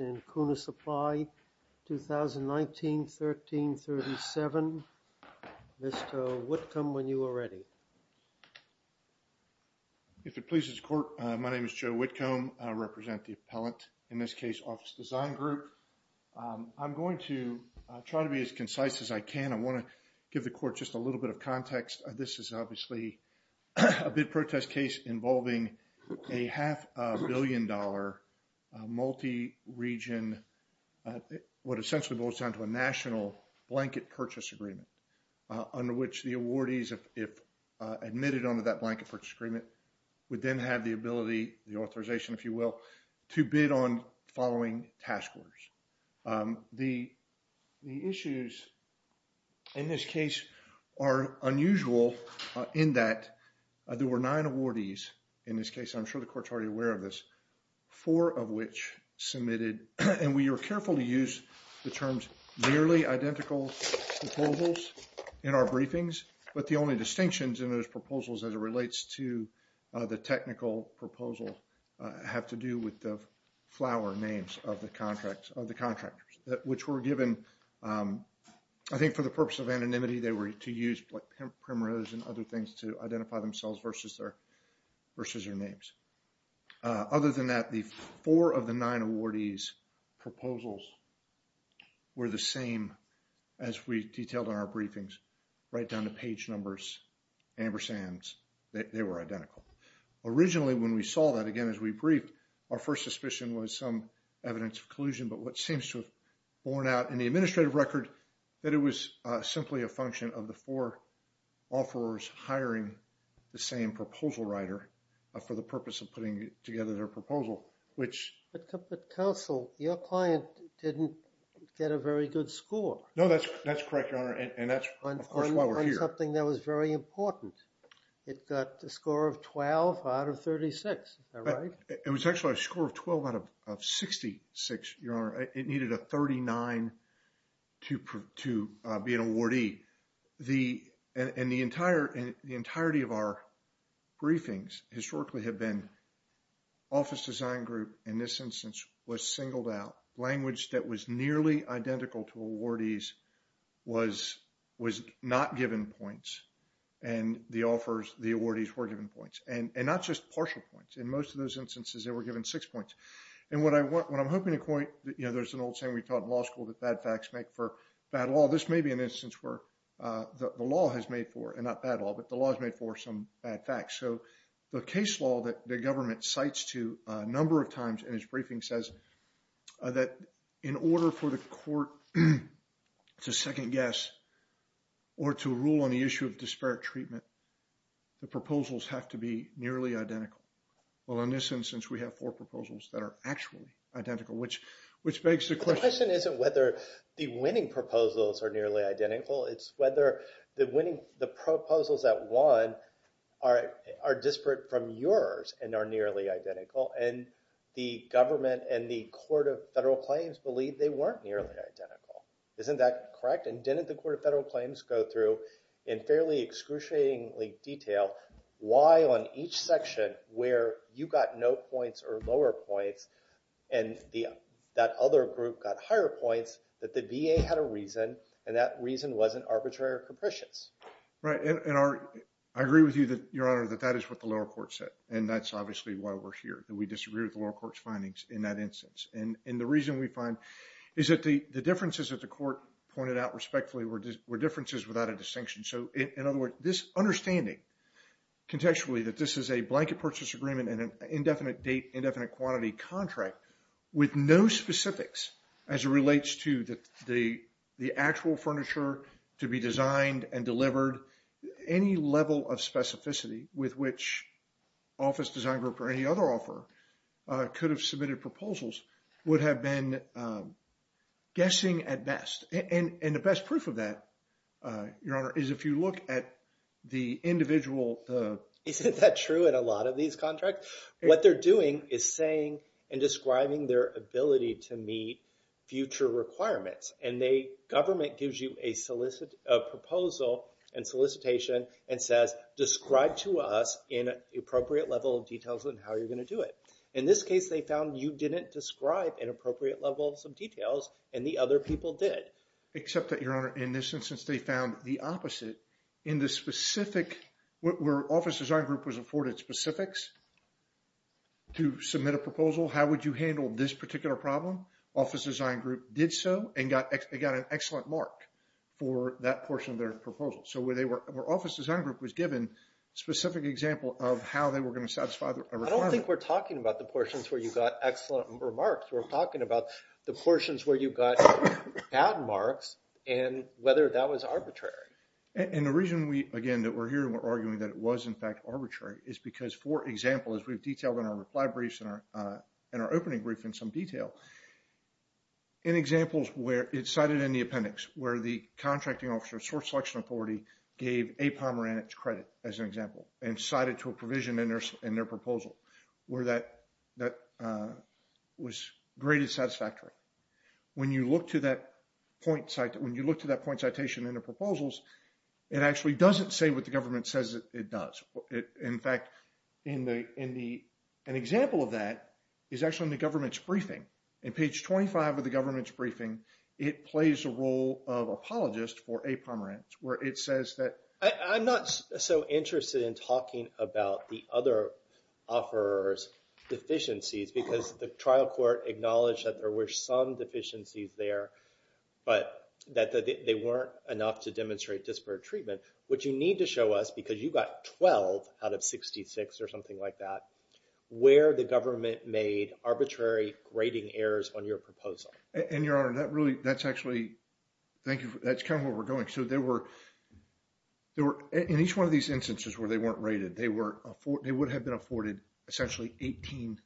and CUNA Supply, 2019-13-37. Mr. Whitcomb, when you are ready. If it pleases the Court, my name is Joe Whitcomb. I represent the appellant, in this case Office Design Group. I'm going to try to be as concise as I can. I want to give the Court just a little bit of context. This is obviously a bid protest case involving a half-a-billion-dollar multi-region, what essentially boils down to a national blanket purchase agreement, under which the awardees, if admitted under that blanket purchase agreement, would then have the authorization, if you will, to bid on following task orders. The issues in this case are unusual in that there were nine awardees in this case. I'm sure the Court's already aware of this. Four of which submitted, and we are careful to use the terms nearly identical proposals in our briefings, but the only distinctions in those proposals as it relates to the technical proposal have to do with the flower names of the contractors, which were given, I think for the purpose of anonymity, they were to use primroses and other things to identify themselves versus their names. Other than that, the four of the nine awardees' proposals were the same as we detailed in our briefings, right down to page numbers, Ambersands, they were identical. Originally, when we saw that, again, as we briefed, our first suspicion was some evidence of collusion, but what seems to have borne out in the administrative record that it was simply a function of the four offerors hiring the same proposal writer for the purpose of putting together their proposal, which... But counsel, your client didn't get a very good score. No, that's correct, Your Honor, and that's, of course, why we're here. It was something that was very important. It got a score of 12 out of 36, is that right? It was actually a score of 12 out of 66, Your Honor. It needed a 39 to be an awardee. The, and the entire, the entirety of our briefings historically have been office design group, in this instance, was singled out. Language that was nearly identical to awardees was not given points, and the offers, the awardees were given points, and not just partial points. In most of those instances, they were given six points. And what I want, what I'm hoping to point, you know, there's an old saying we taught in law school that bad facts make for bad law. This may be an instance where the law has made for, and not bad law, but the law has made for some bad facts. So the case law that the government cites to a number of times in its briefing says that in order for the court to second guess or to rule on the issue of disparate treatment, the proposals have to be nearly identical. Well, in this instance, we have four proposals that are actually identical, which begs the question. The question isn't whether the winning proposals are nearly identical. It's whether the winning, the proposals that won are disparate from yours and are nearly identical. And the government and the Court of Federal Claims believe they weren't nearly identical. Isn't that correct? And didn't the Court of Federal Claims go through in fairly excruciatingly detail why on each section where you got no points or lower points, and that other group got higher points, that the VA had a reason, and that reason wasn't arbitrary or capricious? Right. And I agree with you, Your Honor, that that is what the lower court said. And that's obviously why we're here, that we disagree with the lower court's findings in that instance. And the reason we find is that the differences that the court pointed out respectfully were differences without a distinction. So in other words, this understanding contextually that this is a blanket purchase agreement and an indefinite date, indefinite quantity contract with no specifics as it relates to the actual furniture to be designed and delivered, any level of specificity with which Office Design Group or any other offer could have submitted proposals would have been guessing at best. And the best proof of that, Your Honor, is if you look at the individual... Isn't that true in a lot of these contracts? What they're doing is saying and describing their ability to meet future requirements. And the government gives you a proposal and solicitation and says, describe to us in an appropriate level of details on how you're going to do it. In this case, they found you didn't describe an appropriate level of some details and the other people did. Except that, Your Honor, in this instance, they found the opposite. In the specific... Where Office Design Group was afforded specifics to submit a proposal, how would you handle this particular problem? Office Design Group did so and got an excellent mark for that portion of their proposal. So where Office Design Group was given a specific example of how they were going to satisfy a requirement. I don't think we're talking about the portions where you got excellent remarks. We're talking about the portions where you got bad marks and whether that was arbitrary. And the reason, again, that we're here and we're arguing that it was in fact arbitrary is because, for example, as we've detailed in our reply briefs and our opening brief in some detail, in examples where it's cited in the appendix, where the contracting officer, source selection authority, gave a Pomerantz credit, as an example, and cited to a provision in their proposal, where that was great and satisfactory. When you look to that citation in the proposals, it actually doesn't say what the government says it does. In fact, an example of that is actually in the government's briefing. In page 25 of the government's briefing, it plays a role of apologist for a Pomerantz, where it says that... I'm not so interested in talking about the other offerers' deficiencies because the trial court acknowledged that there were some deficiencies there, but that they weren't enough to demonstrate disparate treatment. What you need to show us, because you got 12 out of 66 or something like that, where the government made arbitrary grading errors on your proposal. And Your Honor, that's actually... Thank you. That's kind of where we're going. In each one of these instances where they weren't rated, they would have been afforded essentially 18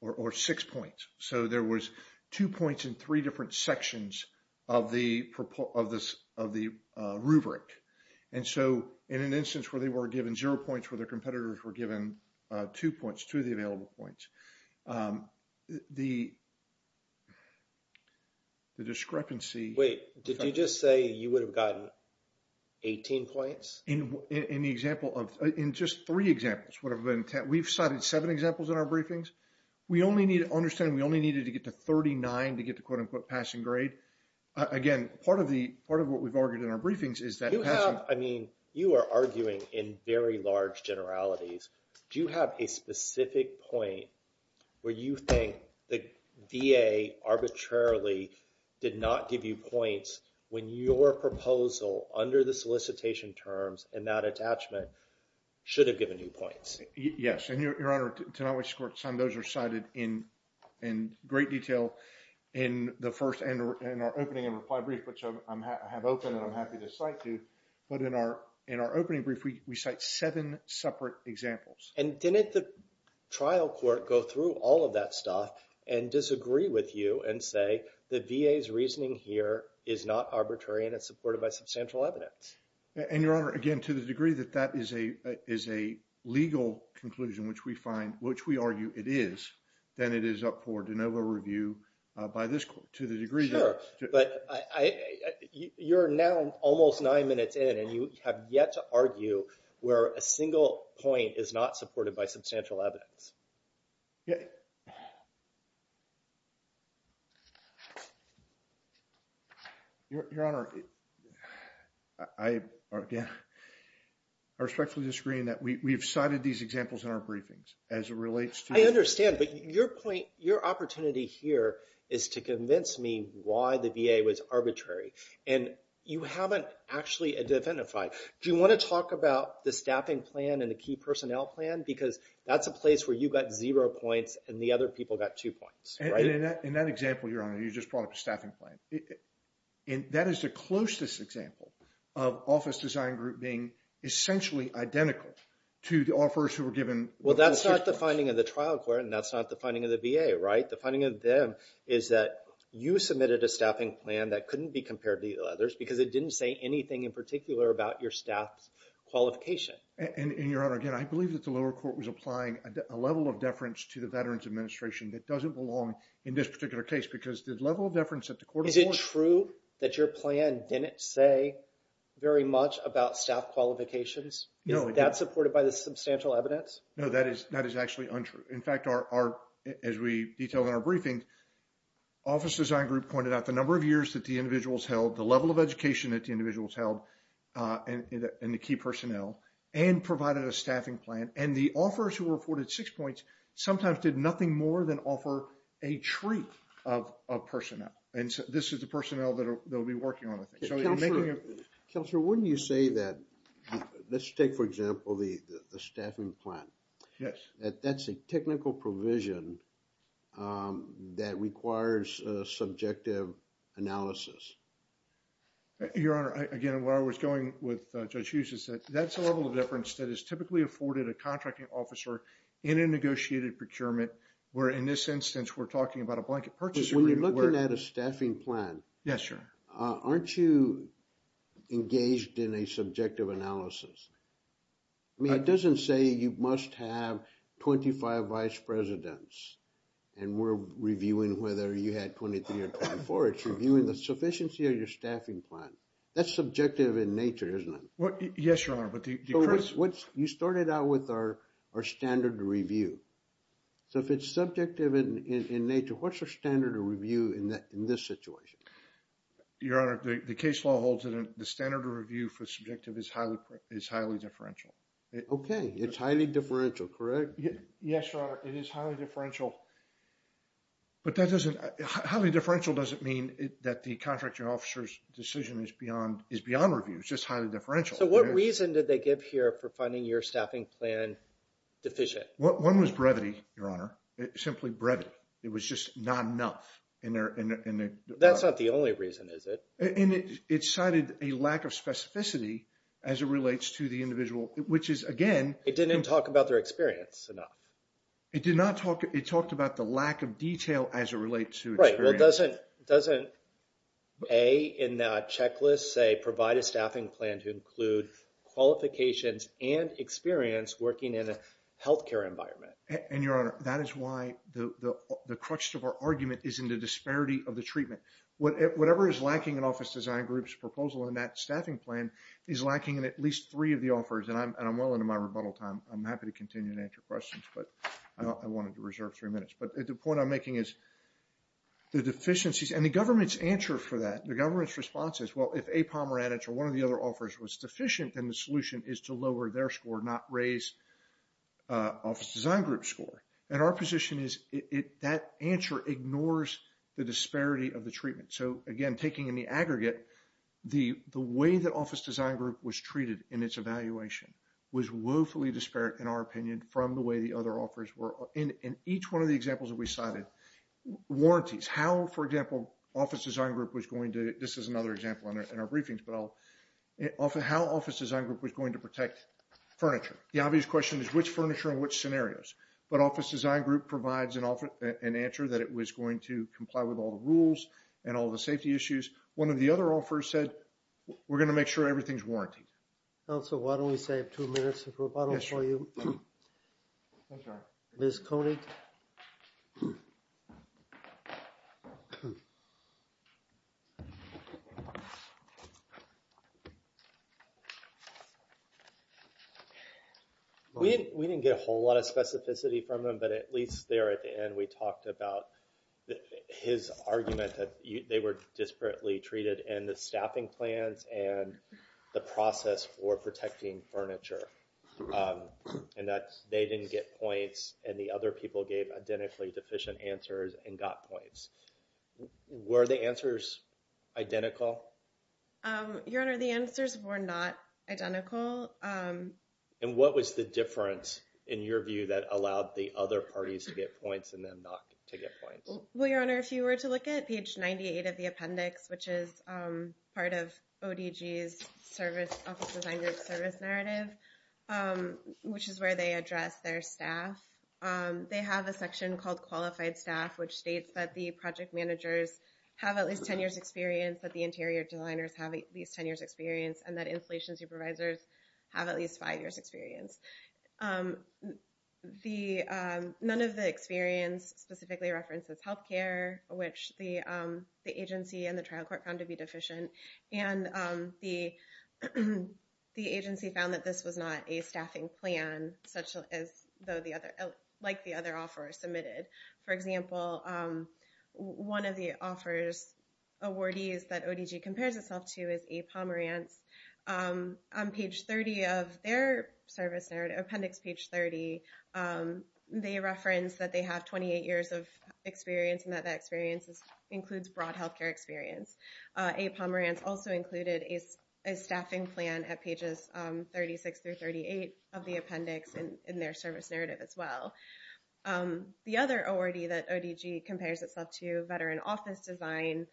or six points. So, there was two points in three different sections of the rubric. And so, in an instance where they were given zero points, where their competitors were given two points, two of the available points, the discrepancy... Wait, did you just say you would have gotten 18 points? In the example of... In just three examples, we've cited seven examples in our briefings. We only need to understand, we only needed to get to 39 to get the quote-unquote passing grade. Again, part of what we've argued in our briefings is that passing... I mean, you are arguing in very large generalities. Do you have a specific point where you think the VA arbitrarily did not give you points when your proposal under the solicitation terms and that attachment should have given you points? Yes. And Your Honor, to my knowledge, some of those are cited in great detail in our opening and reply brief, which I have open and I'm happy to cite to. But in our opening brief, we cite seven separate examples. And didn't the trial court go through all of that stuff and disagree with you and say the VA's reasoning here is not arbitrary and supported by substantial evidence? And Your Honor, again, to the degree that that is a legal conclusion, which we find, which we argue it is, then it is up for de novo review by this court, to the degree that... Sure. But you're now almost nine minutes in and you have yet to argue where a single point is not supported by substantial evidence. Yeah. Your Honor, I respectfully disagree in that we've cited these examples in our briefings as it relates to... I understand, but your point, your opportunity here is to convince me why the VA was arbitrary. And you haven't actually identified. Do you want to talk about the staffing plan and the key personnel plan? Because that's a zero point and the other people got two points, right? In that example, Your Honor, you just brought up a staffing plan. That is the closest example of office design group being essentially identical to the offers who were given... Well, that's not the finding of the trial court and that's not the finding of the VA, right? The finding of them is that you submitted a staffing plan that couldn't be compared to the others because it didn't say anything in particular about your staff's qualification. And Your Honor, again, I believe that the lower court was applying a level of deference to the Veterans Administration that doesn't belong in this particular case because the level of deference that the court... Is it true that your plan didn't say very much about staff qualifications? No, it didn't. That's supported by the substantial evidence? No, that is actually untrue. In fact, as we detailed in our briefing, office design group pointed out the number of years that the individuals held and the key personnel and provided a staffing plan. And the offers who were afforded six points sometimes did nothing more than offer a treat of personnel. And this is the personnel that they'll be working on, I think. Counselor, wouldn't you say that... Let's take, for example, the staffing plan. Yes. That's a technical provision that requires subjective analysis. Your Honor, again, where I was going with Judge Hughes is that that's a level of deference that is typically afforded a contracting officer in a negotiated procurement, where in this instance, we're talking about a blanket purchase agreement where... When you're looking at a staffing plan... Yes, sir. Aren't you engaged in a subjective analysis? I mean, it doesn't say you must have 25 vice presidents and we're reviewing whether you had 23 or 24. It's reviewing the sufficiency of your staffing plan. That's subjective in nature, isn't it? Yes, Your Honor, but the first... You started out with our standard review. So if it's subjective in nature, what's your standard of review in this situation? Your Honor, the case law holds that the standard of review for subjective is highly differential. Okay. It's highly differential, correct? Yes, Your Honor. It is highly differential. But that doesn't... Highly differential doesn't mean that the contracting officer's decision is beyond review. It's just highly differential. So what reason did they give here for finding your staffing plan deficient? One was brevity, Your Honor. Simply brevity. It was just not enough in their... That's not the only reason, is it? And it cited a lack of specificity as it relates to the individual, which is, again... It didn't talk about their experience enough. It did not talk... It talked about the lack of detail as it relates to experience. Right. Well, doesn't A in that checklist say, provide a staffing plan to include qualifications and experience working in a healthcare environment? And Your Honor, that is why the crutch of our argument is in the disparity of the treatment. Whatever is lacking in Office Design Group's proposal in that staffing plan is lacking in at least three of the offers. And I'm well into my rebuttal time. I'm happy to continue to answer questions, but I wanted to reserve three minutes. But the point I'm making is the deficiencies... And the government's answer for that... The government's response is, well, if a Pomerantich or one of the other offers was deficient, then the solution is to lower their score, not raise Office Design Group's score. And our position is that answer ignores the disparity of the treatment. So again, taking in the aggregate, the way that Office Design Group was treated in its evaluation was woefully disparate, in our opinion, from the way the other offers were. In each one of the examples that we cited, warranties, how, for example, Office Design Group was going to... This is another example in our briefings, but I'll... How Office Design Group was going to protect furniture. The obvious question is which furniture and which scenarios. But Office Design Group provides an answer that it was going to comply with all the rules and all the safety issues. One of the other offers said, we're going to make sure everything's warrantied. Also, why don't we save two minutes of rebuttal for you? I'm sorry. Ms. Koenig. We didn't get a whole lot of specificity from him, but at least there at the end, we talked about his argument that they were disparately treated in the staffing plans and the process for protecting furniture. And that they didn't get points and the other people gave identically deficient answers and got points. Were the answers identical? Your Honor, the answers were not identical. And what was the difference in your view that allowed the other parties to get points and them not to get points? Well, Your Honor, if you were to look at page 98 of the appendix, which is part of ODG's Office Design Group service narrative, which is where they address their staff, they have a section called qualified staff, which states that the project managers have at least 10 years experience, that the interior designers have at least 10 years experience, and that installation supervisors have at least five years experience. None of the experience specifically references health care, which the agency and the trial court found to be deficient. And the agency found that this was not a staffing plan, like the other offers submitted. For example, one of the offers, awardees that ODG compares itself to is A. Pomerantz. On page 30 of their service narrative, appendix page 30, they reference that they have 28 years of experience and that that experience includes broad health care experience. A. Pomerantz also included a staffing plan at pages 36 through 38 of the appendix in their service narrative as well. The other awardee that ODG compares itself to, Veteran Office Design,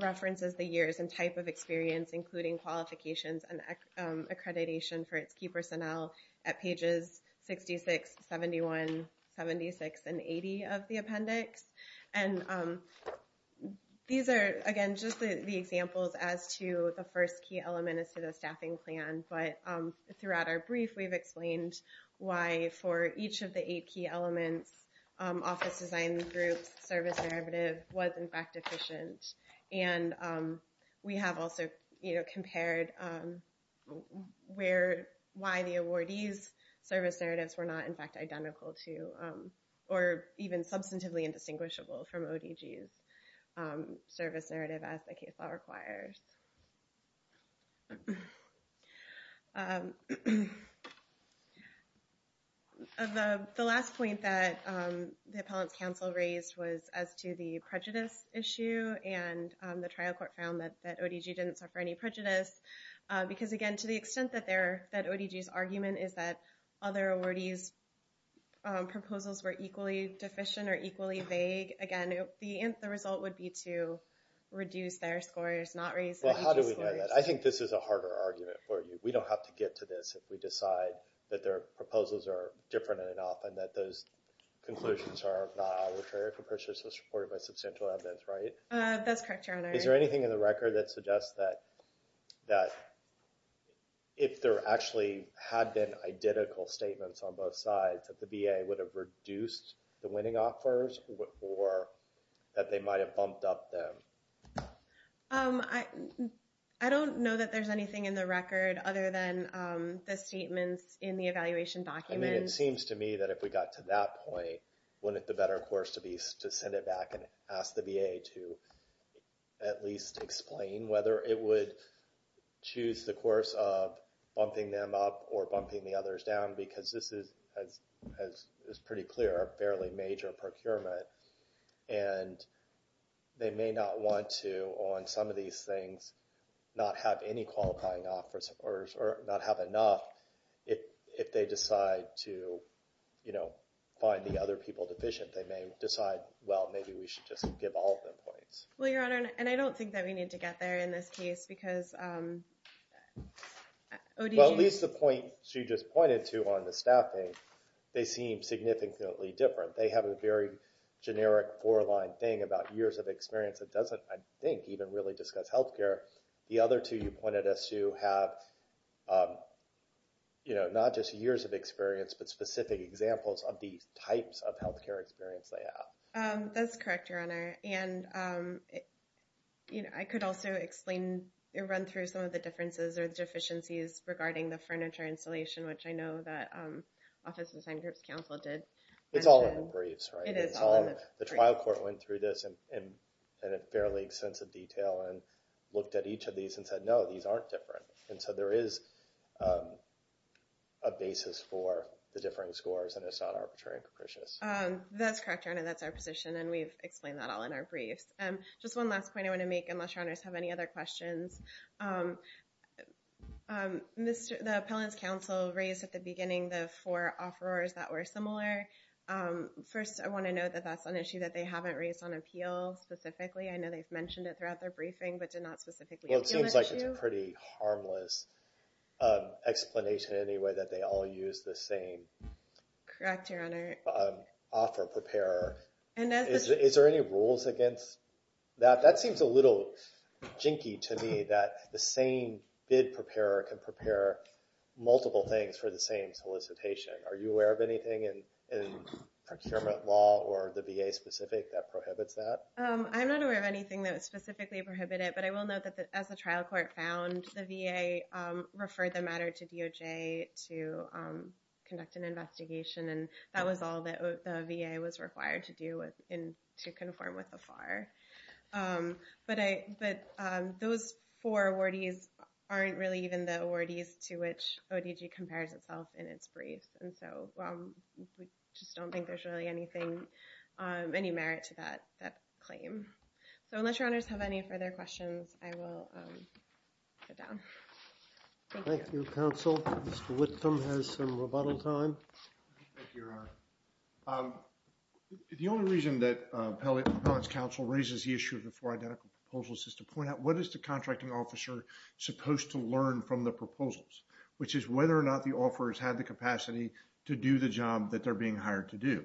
references the type of experience, including qualifications and accreditation for its key personnel at pages 66, 71, 76, and 80 of the appendix. And these are, again, just the examples as to the first key element as to the staffing plan. But throughout our brief, we've explained why for each of the eight key elements, Office Design Group's service narrative was in fact deficient. And we have also compared why the awardees' service narratives were not in fact identical to, or even substantively indistinguishable from ODG's service narrative as the case law requires. The last point that the Appellant's Council raised was as to the prejudice issue. And the trial court found that ODG didn't suffer any prejudice. Because, again, to the extent that their, that ODG's argument is that other awardees' proposals were equally deficient or equally vague, again, the result would be to reduce their scores, not raise ODG's scores. Well, how do we know that? I think this is a harder argument for you. We don't have to get to this if we decide that their proposals are different enough and that those conclusions are not arbitrary for purposes supported by substantial evidence, right? That's correct, Your Honor. Is there anything in the record that suggests that if there actually had been identical statements on both sides, that the VA would have reduced the winning offers or that they might have bumped up them? I don't know that there's anything in the record other than the statements in the evaluation document. I mean, it seems to me that if we got to that point, wouldn't it be better, of course, to send it back and ask the VA to at least explain whether it would choose the course of bumping the others down? Because this is, as is pretty clear, a fairly major procurement. And they may not want to, on some of these things, not have any qualifying offers or not have enough if they decide to, you know, find the other people deficient. They may decide, well, maybe we should just give all of them points. Well, Your Honor, and I don't think that we need to get there in this case, because Well, at least the points you just pointed to on the staffing, they seem significantly different. They have a very generic four-line thing about years of experience that doesn't, I think, even really discuss health care. The other two you pointed us to have, you know, not just years of experience, but specific examples of the types of health care experience they have. That's correct, Your Honor. And, you know, I could also explain or run through some of the differences or deficiencies regarding the furniture installation, which I know that Office of Assigned Groups Counsel did. It's all in the briefs, right? It is all in the briefs. The trial court went through this in a fairly extensive detail and looked at each of these and said, no, these aren't different. And so there is a basis for the differing scores, and it's not arbitrary and capricious. That's correct, Your Honor. That's our briefs. Just one last point I want to make, unless Your Honors have any other questions. The Appellant's Counsel raised at the beginning the four offerors that were similar. First, I want to note that that's an issue that they haven't raised on appeal specifically. I know they've mentioned it throughout their briefing, but did not specifically appeal the issue. Well, it seems like it's a pretty harmless explanation, anyway, that they all use the same Correct, Your Honor. offer preparer. Is there any rules against that? That seems a little jinky to me, that the same bid preparer can prepare multiple things for the same solicitation. Are you aware of anything in procurement law or the VA specific that prohibits that? I'm not aware of anything that would specifically prohibit it, but I will note that, as the trial court found, the VA referred the matter to DOJ to conduct an investigation, and that was all that the VA was required to do to conform with the FAR. But those four awardees aren't really even the awardees to which ODG compares itself in its briefs, and so we just don't think there's really any merit to that claim. So unless Your Honors have any further questions, I will sit down. Thank you, Counsel. Mr. Whitcomb has some rebuttal time. Thank you, Your Honor. The only reason that Appellate Counsel raises the issue of the four identical proposals is to point out what is the contracting officer supposed to learn from the proposals, which is whether or not the offerors had the capacity to do the job that they're being hired to do.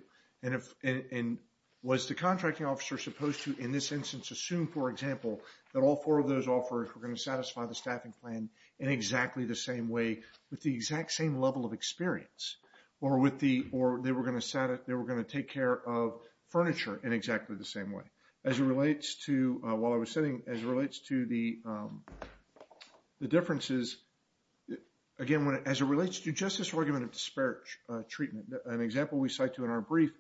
And was the contracting officer supposed to, in this instance, assume, for example, that all four of those offers were going to satisfy the staffing plan in exactly the same way with the exact same level of experience, or they were going to take care of furniture in exactly the same way. As it relates to, while I was sitting, as it relates to the differences, again, as it relates to justice argument of disparage treatment, an example we cite to in our brief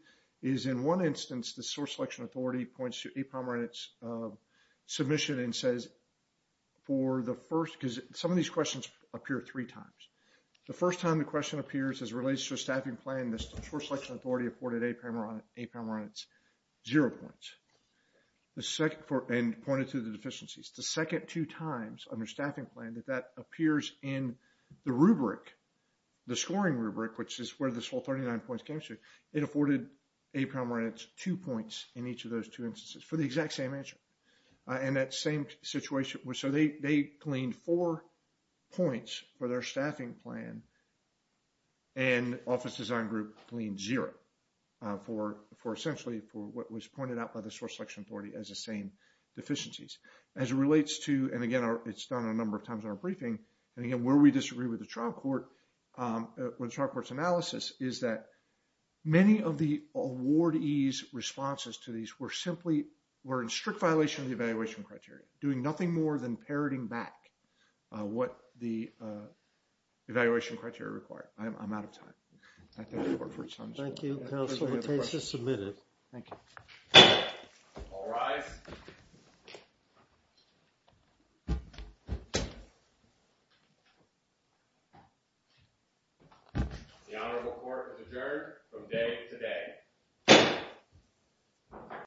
is in one instance, the source selection authority points to APOMR in its submission and for the first, because some of these questions appear three times. The first time the question appears as it relates to a staffing plan, the source selection authority afforded APOMR on its zero points. The second, and pointed to the deficiencies, the second two times under staffing plan that that appears in the rubric, the scoring rubric, which is where this whole 39 points came to, it afforded APOMR on its two points in each of those two instances for the exact same answer. And that same situation, so they cleaned four points for their staffing plan and office design group cleaned zero for essentially for what was pointed out by the source selection authority as the same deficiencies. As it relates to, and again, it's done a number of times in our briefing, and again, where we disagree with the trial court, with trial court's analysis is that many of the awardees responses to these were simply, were in strict violation of the evaluation criteria, doing nothing more than parroting back what the evaluation criteria require. I'm out of time. Thank you, counsel. The case is submitted. Thank you. All rise. The honorable court is adjourned from day today.